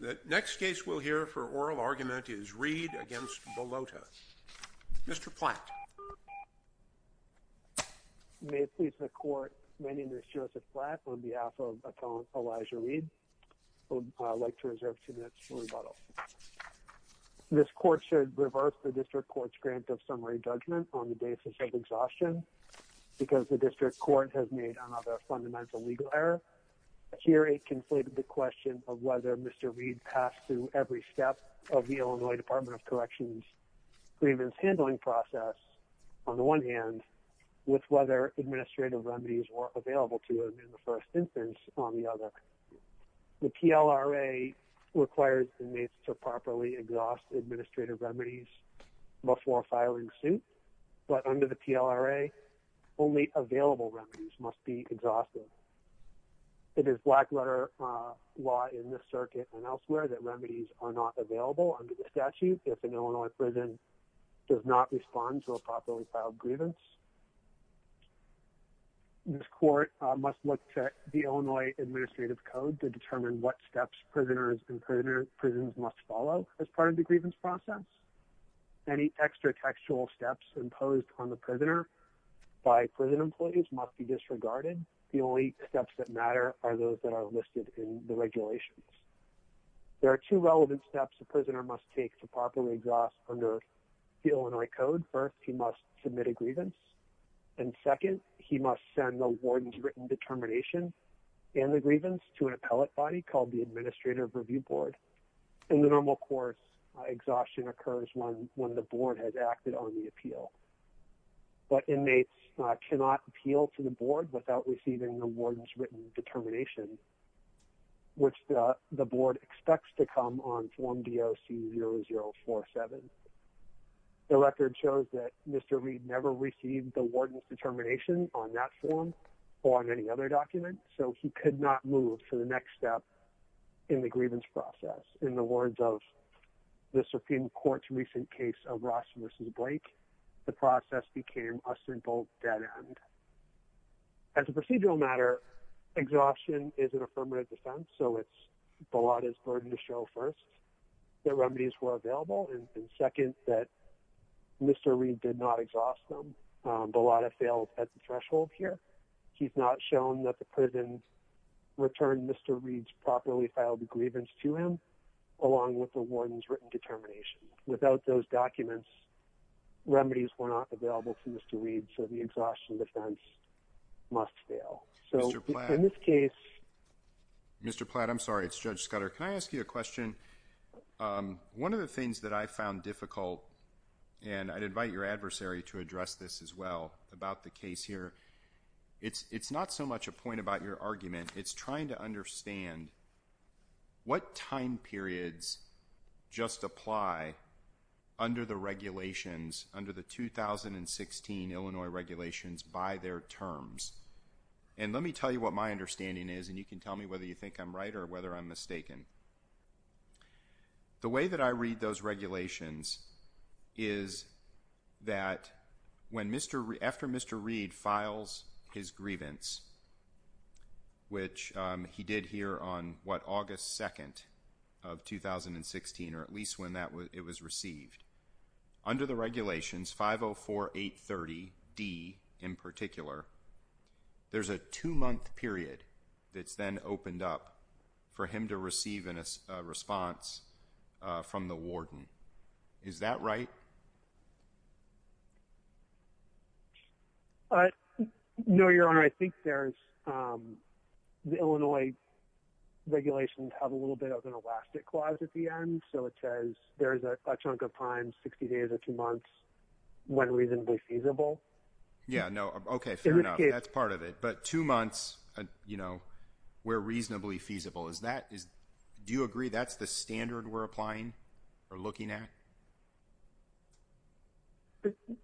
The next case we'll hear for oral argument is Reid against Balota. Mr. Platt May it please the court, my name is Joseph Platt on behalf of my colleague Elijah Reid. I would like to reserve two minutes for rebuttal. This court should reverse the district court's grant of summary judgment on the basis of exhaustion because the district court has made another fundamental legal error. Here a conflicted question of whether Mr. Reid passed through every step of the Illinois Department of Corrections grievance handling process. On the one hand, with whether administrative remedies were available to him in the first instance. On the other, the PLRA requires inmates to properly exhaust administrative remedies before filing suit, but under the PLRA only available remedies must be exhausted. It is black letter law in the circuit and elsewhere that remedies are not available under the statute if an Illinois prison does not respond to a properly filed grievance. This court must look to the Illinois Administrative Code to determine what steps prisoners in prisons must follow as part of the grievance process. Any extra textual steps imposed on the prisoner by prison employees must be disregarded. The only steps that matter are those that are listed in the regulations. There are two relevant steps the prisoner must take to properly exhaust under the Illinois Code. First, he must submit a grievance. And second, he must send the warden's written determination and the grievance to an appellate body called the Administrative Review Board. In the normal course, exhaustion occurs when the board has acted on the appeal. But inmates cannot appeal to the board without receiving the warden's written determination, which the board expects to come on form D.O.C. 0047. The record shows that Mr. Reed never received the warden's determination on that form or on any other document, so he could not move to the next step in the grievance process. In the words of the Supreme Court's recent case of Ross v. Blake, the process became a simple dead end. As a procedural matter, exhaustion is an affirmative defense, so it's the law that's burdened to show first that remedies were available and second that Mr. Reed did not exhaust them. The law has failed at the threshold here. He's not shown that the prison returned Mr. Reed's properly filed grievance to him along with the warden's written determination. Without those documents, remedies were not available to Mr. Reed, so the exhaustion defense must fail. So in this case, Mr. Platt, I'm sorry, it's Judge Scudder. Can I ask you a question? One of the things that I found difficult, and I'd invite your adversary to address this as well, about the case here, it's not so much a point about your argument. It's trying to understand what time periods just apply under the regulations, under the 2016 Illinois regulations by their terms. And let me tell you what my understanding is, and you can tell me whether you think I'm right or whether I'm mistaken. The way that I read those regulations is that after Mr. Reed files his grievance, which he did here on what, August 2nd of 2016, or at least when it was received, under the regulations, 504830D in particular, there's a two-month period that's then opened up for him to receive a response from the warden. Is that right? No, Your Honor, I think there's, the Illinois regulations have a little bit of an elastic clause at the end, so it says there's a chunk of time, 60 days or two months, when reasonably feasible. Yeah, no, okay, fair enough, that's part of it, but two months, you know, where reasonably feasible, is that, do you agree that's the standard we're applying or looking at?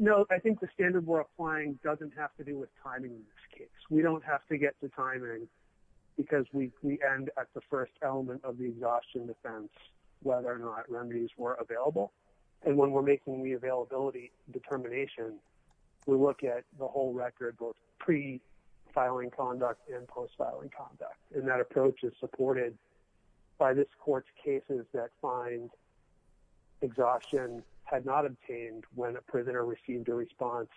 No, I think the standard we're applying doesn't have to do with timing in this case. We don't have to get to timing because we end at the first element of the exhaustion defense, whether or not remedies were available. And when we're making the availability determination, we look at the whole record, both pre-filing conduct and post-filing conduct. And that approach is supported by this court's cases that find exhaustion had not obtained when a prisoner received a response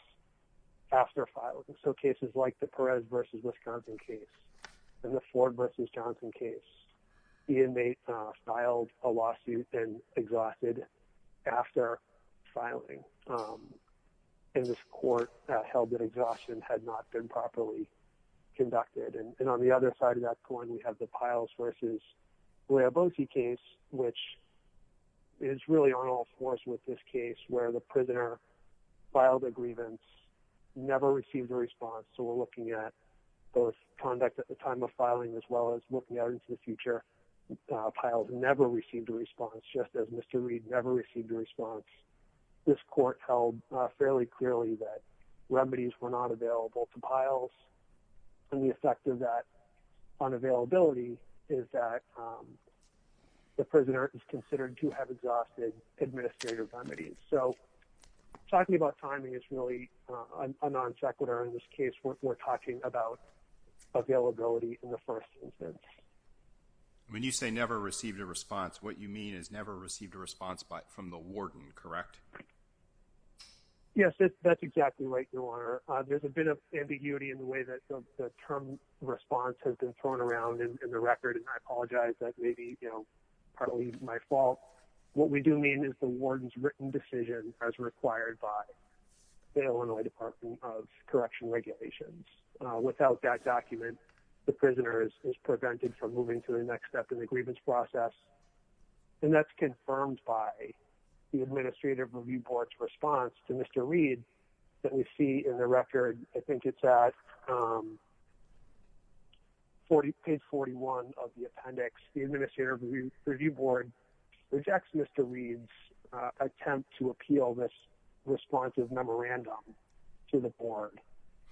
after filing. So cases like the Perez v. Wisconsin case and the Ford v. Johnson case, the inmate filed a lawsuit and exhausted after filing. And this court held that exhaustion had not been properly conducted. And on the other side of that coin, we have the Piles v. Laiabosie case, which is really on all fours with this case, where the prisoner filed a grievance, never received a response, so we're looking at both conduct at the time of filing, as well as looking out into the future, Piles never received a response, just as Mr. Reed never received a response. This court held fairly clearly that remedies were not available to Piles. And the effect of that on availability is that the prisoner is considered to have exhausted administrative remedies. So talking about timing is really a non-sequitur in this case. We're talking about availability in the first instance. When you say never received a response, what you mean is never received a response from the warden, correct? Yes, that's exactly right, Your Honor. There's a bit of ambiguity in the way that the term response has been thrown around in the record, and I apologize. That may be partly my fault. What we do mean is the warden's written decision as required by the Illinois Department of Correction Regulations. Without that document, the prisoner is prevented from moving to the next step in the grievance process. And that's confirmed by the Administrative Review Board's response to Mr. Reed that we see in the record. I think it's at page 41 of the appendix. The Administrative Review Board rejects Mr. Reed's attempt to appeal this responsive memorandum to the board.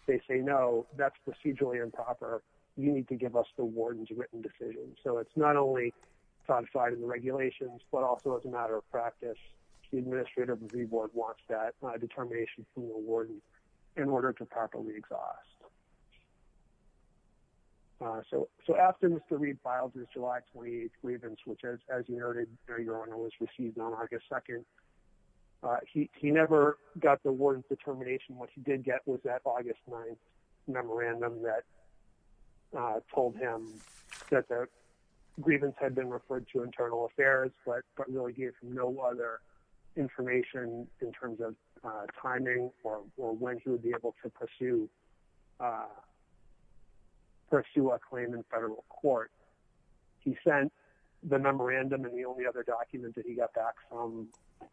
They say, no, that's procedurally improper. You need to give us the warden's written decision. So it's not only codified in the regulations, but also as a matter of practice, the Administrative Review Board wants that determination from the warden in order to properly exhaust. So after Mr. Reed filed his July 28th grievance, which as you noted, Your Honor, was received on August 2nd, he never got the warden's determination. What he did get was that August 9th memorandum that told him that the grievance had been referred to Internal Affairs, but really gave him no other information in terms of timing or when he would be able to pursue the next step in the process. Pursue a claim in federal court. He sent the memorandum and the only other document that he got back from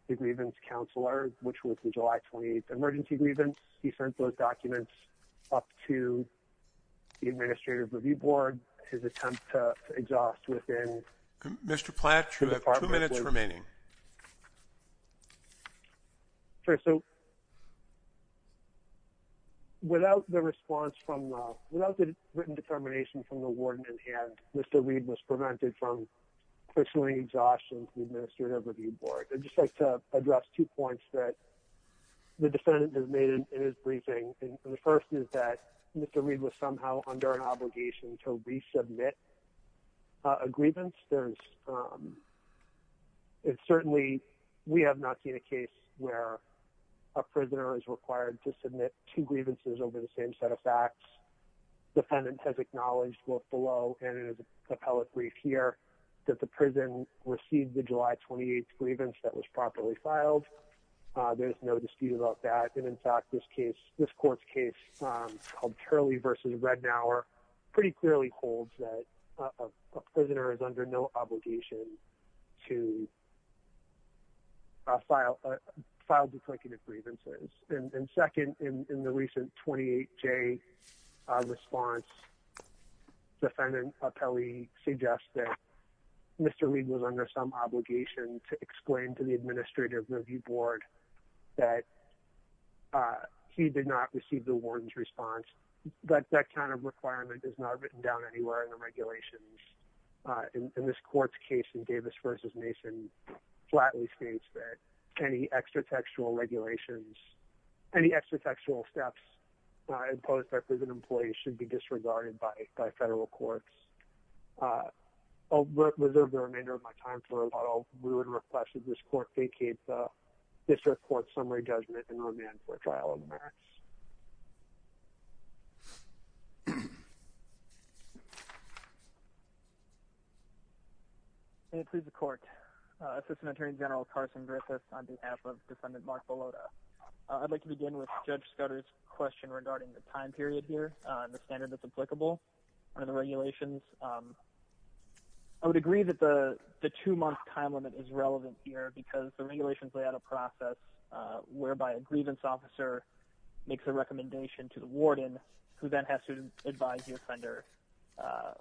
the grievance counselor, which was the July 28th emergency grievance. He sent those documents. Up to the Administrative Review Board, his attempt to exhaust within. Mr. Platt, you have 2 minutes remaining. So, without the response from, without the written determination from the warden in hand, Mr. Reed was prevented from. Personally exhaustion, the Administrative Review Board, I'd just like to address 2 points that. The defendant has made in his briefing and the 1st is that Mr. Reed was somehow under an obligation to resubmit. A grievance there's certainly we have not seen a case where. A prisoner is required to submit 2 grievances over the same set of facts. Defendant has acknowledged both below and appellate brief here. That the prison received the July 28th grievance that was properly filed. There's no dispute about that. And in fact, this case, this court's case called Charlie versus right now are. Pretty clearly holds that a prisoner is under no obligation. To file file, declarative grievances and 2nd, in the recent 28 J. Response defendant appellee suggest that. Mr. Reed was under some obligation to explain to the Administrative Review Board. That he did not receive the warden's response, but that kind of requirement is not written down anywhere in the regulations. In this court's case in Davis versus nation. Flatly states that any extra textual regulations. Any extra textual steps imposed by prison employees should be disregarded by by federal courts. Uh, I'll reserve the remainder of my time for a lot of rude requested. This court vacates. This report summary judgment and remand for trial of emergency. And it please the court assistant attorney general Carson Griffiths on behalf of defendant Mark. I'd like to begin with judge Scottish question regarding the time period here and the standard that's applicable. Under the regulations. I would agree that the 2 month time limit is relevant here because the regulations lay out a process whereby a grievance officer. Makes a recommendation to the warden who then has to advise your fender. Uh,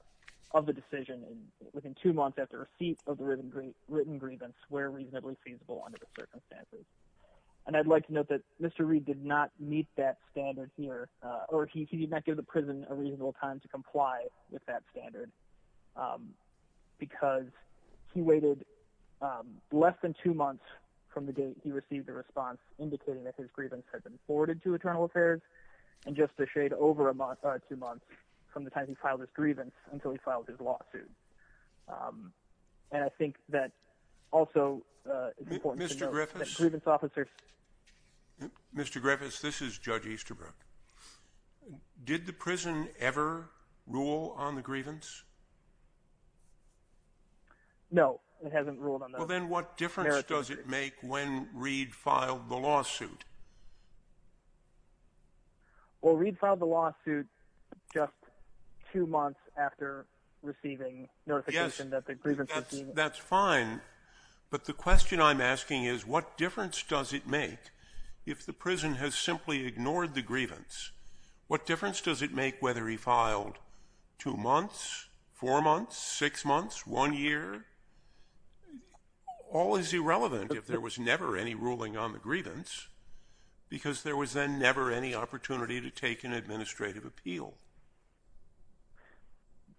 of the decision within 2 months after receipt of the written written grievance where reasonably feasible under the circumstances. And I'd like to note that Mr Reed did not meet that standard here, or he did not give the prison a reasonable time to comply with that standard. Because he waited less than 2 months from the date he received the response indicating that his grievance had been forwarded to eternal affairs and just to shade over a month or 2 months from the time he filed his grievance until he filed his lawsuit. Um, and I think that also, uh, Mr Griffiths grievance officers. Mr Griffiths, this is judge Easterbrook. Did the prison ever rule on the grievance? No, it hasn't ruled on well, then what difference does it make when Reed filed the lawsuit? Well, read filed the lawsuit just 2 months after receiving notification that the grievance that's fine, but the question I'm asking is what difference does it make if the prison has simply ignored the grievance? What difference does it make whether he filed 2 months, 4 months, 6 months, 1 year? All is irrelevant if there was never any ruling on the grievance. Because there was then never any opportunity to take an administrative appeal.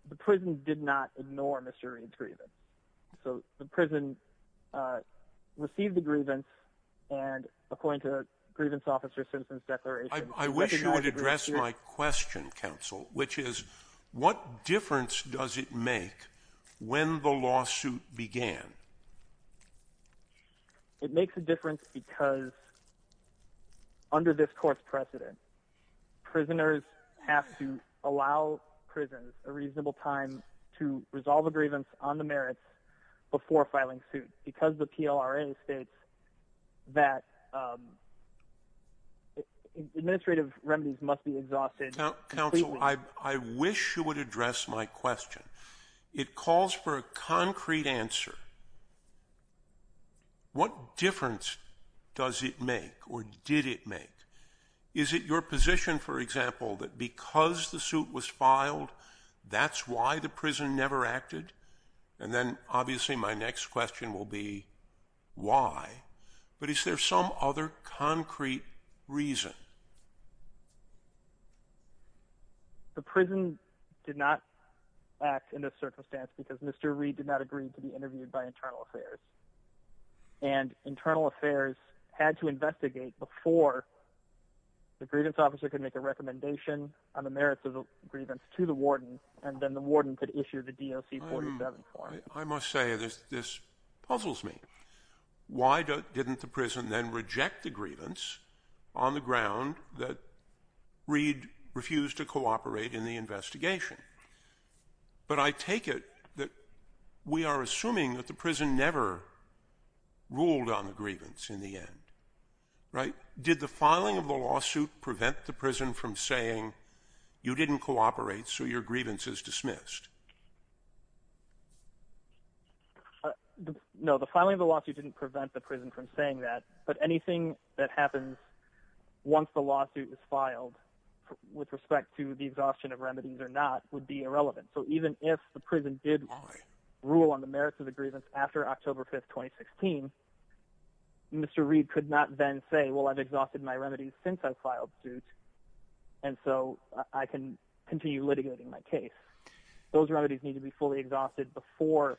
The prison did not ignore Mr. Reed's grievance, so the prison, uh, received the grievance and according to the grievance officer citizens declaration, I wish you would address my question counsel, which is what difference does it make when the lawsuit began? It makes a difference because. Under this court's precedent. Prisoners have to allow prisons a reasonable time to resolve a grievance on the merits before filing suit because the PLRA states. That. Administrative remedies must be exhausted. Council, I wish you would address my question. It calls for a concrete answer. What difference does it make or did it make? Is it your position, for example, that because the suit was filed, that's why the prison never acted? And then obviously my next question will be why, but is there some other concrete reason? The prison did not act in this circumstance because Mr. Reed did not agree to be interviewed by internal affairs and internal affairs had to investigate before the grievance officer could make a recommendation on the merits of the grievance to the warden and then the warden could issue the DOC 47 form. I must say this, this puzzles me. Why didn't the prison then reject the grievance on the ground that Reed refused to cooperate in the investigation? But I take it that we are assuming that the prison never ruled on the grievance in the end, right? Did the filing of the lawsuit prevent the prison from saying you didn't cooperate, so your grievance is dismissed? No, the filing of the lawsuit didn't prevent the prison from saying that, but anything that happens once the lawsuit is filed with respect to the exhaustion of remedies or not would be irrelevant. So, even if the prison did rule on the merits of the grievance after October 5th, 2016, Mr. Reed could not then say, well, I've exhausted my remedies since I've filed suit. And so I can continue litigating my case. Those remedies need to be fully exhausted before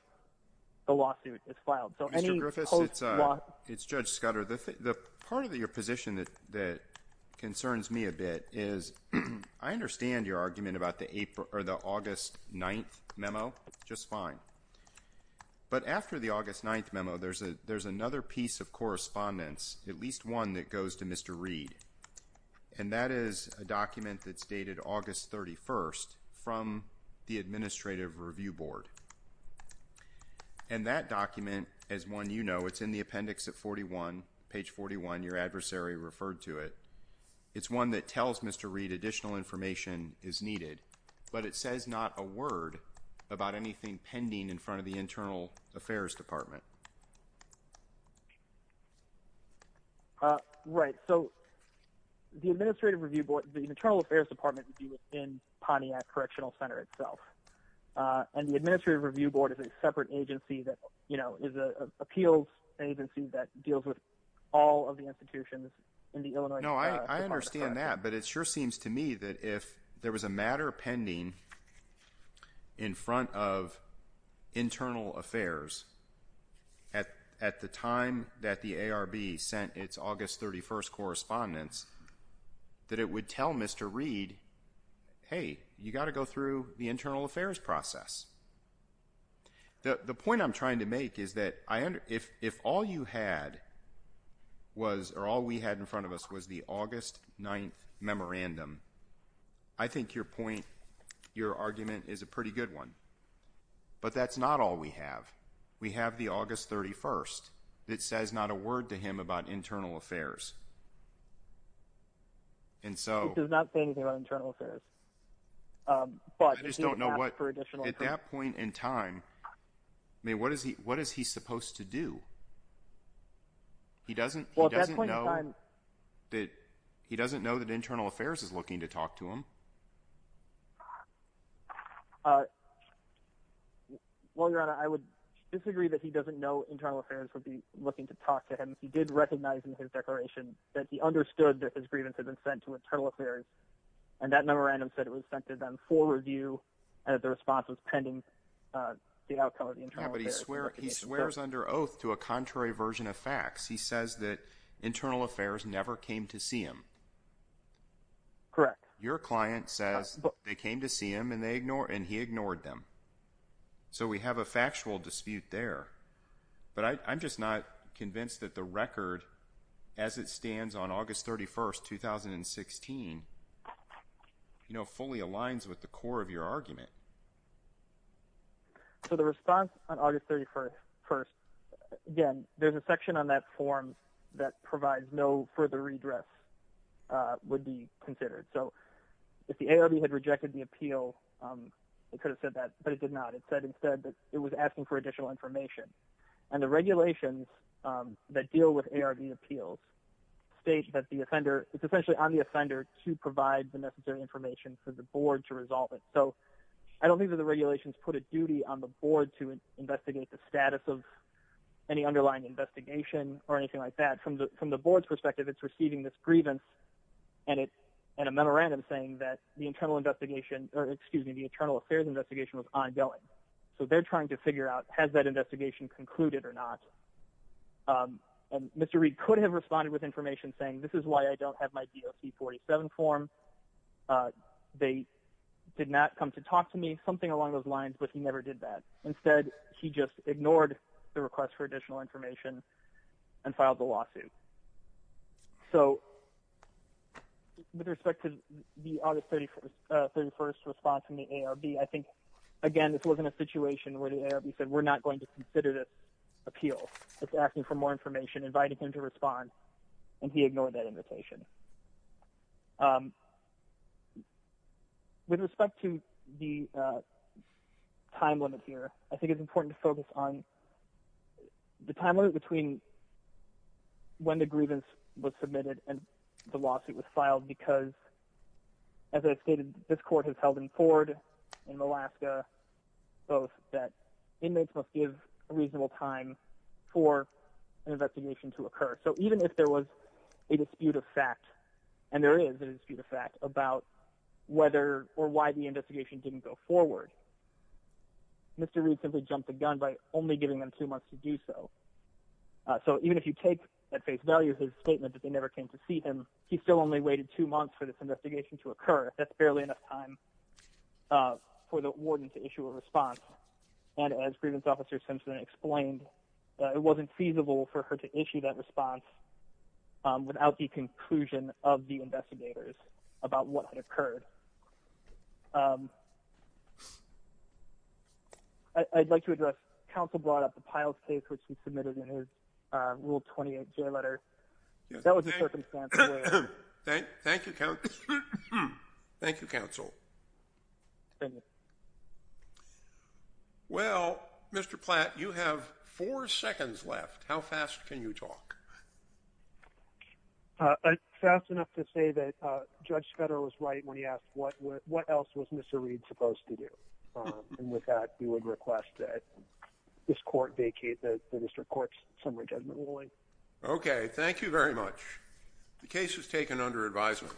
the lawsuit is filed. So, Mr. Griffiths, it's Judge Scudder. The part of your position that concerns me a bit is I understand your argument about the August 9th memo just fine. But after the August 9th memo, there's another piece of correspondence, at least one that goes to Mr. Reed. And that is a document that's dated August 31st from the Administrative Review Board. And that document, as one you know, it's in the appendix at 41, page 41, your adversary referred to it. It's one that tells Mr. Reed additional information is needed, but it says not a word about anything pending in front of the Internal Affairs Department. Right, so the Administrative Review Board, the Internal Affairs Department would be within Pontiac Correctional Center itself, and the Administrative Review Board is a separate agency that, you know, is an appeals agency that deals with all of the institutions in the Illinois Department of Justice. I understand that, but it sure seems to me that if there was a matter pending in front of Internal Affairs at the time that the ARB sent its August 31st correspondence, that it would tell Mr. Reed, hey, you've got to go through the Internal Affairs process. The point I'm trying to make is that if all you had was, or all we had in front of us was the August 9th memorandum, I think your point, your argument is a pretty good one. But that's not all we have. We have the August 31st. It says not a word to him about Internal Affairs. It does not say anything about Internal Affairs. I just don't know what, at that point in time, I mean, what is he supposed to do? He doesn't know that Internal Affairs is looking to talk to him. Well, Your Honor, I would disagree that he doesn't know Internal Affairs would be looking to talk to him. He did recognize in his declaration that he understood that his grievance had been sent to Internal Affairs, and that memorandum said it was sent to them for review and that the response was pending the outcome of the Internal Affairs. Yeah, but he swears under oath to a contrary version of facts. He says that Internal Affairs never came to see him. Correct. Your client says they came to see him, and he ignored them. So we have a factual dispute there. But I'm just not convinced that the record, as it stands on August 31st, 2016, fully aligns with the core of your argument. So the response on August 31st, again, there's a section on that form that provides no further redress would be considered. So if the ARB had rejected the appeal, it could have said that, but it did not. It said instead that it was asking for additional information. And the regulations that deal with ARB appeals state that the offender – it's essentially on the offender to provide the necessary information for the board to resolve it. So I don't think that the regulations put a duty on the board to investigate the status of any underlying investigation or anything like that. From the board's perspective, it's receiving this grievance and a memorandum saying that the Internal Affairs investigation was ongoing. So they're trying to figure out has that investigation concluded or not. And Mr. Reid could have responded with information saying this is why I don't have my DOC 47 form. They did not come to talk to me, something along those lines, but he never did that. Instead, he just ignored the request for additional information and filed the lawsuit. So with respect to the August 31st response from the ARB, I think, again, this wasn't a situation where the ARB said we're not going to consider this appeal. It's asking for more information, inviting him to respond, and he ignored that invitation. With respect to the time limit here, I think it's important to focus on the time limit between when the grievance was submitted and the lawsuit was filed because, as I stated, this court has held in Ford and in Alaska both that inmates must give a reasonable time for an investigation to occur. So even if there was a dispute of fact, and there is a dispute of fact about whether or why the investigation didn't go forward, Mr. Reid simply jumped the gun by only giving them two months to do so. So even if you take at face value his statement that they never came to see him, he still only waited two months for this investigation to occur. That's barely enough time for the warden to issue a response. And as Grievance Officer Simpson explained, it wasn't feasible for her to issue that response without the conclusion of the investigators about what had occurred. I'd like to address, counsel brought up the Piles case, which he submitted in his Rule 28 letter. That was the circumstance. Thank you, counsel. Well, Mr. Platt, you have four seconds left. How fast can you talk? Fast enough to say that Judge Federer was right when he asked what else was Mr. Reid supposed to do? And with that, we would request that this court vacate the district court's summary judgment ruling. Okay, thank you very much. The case is taken under advisement.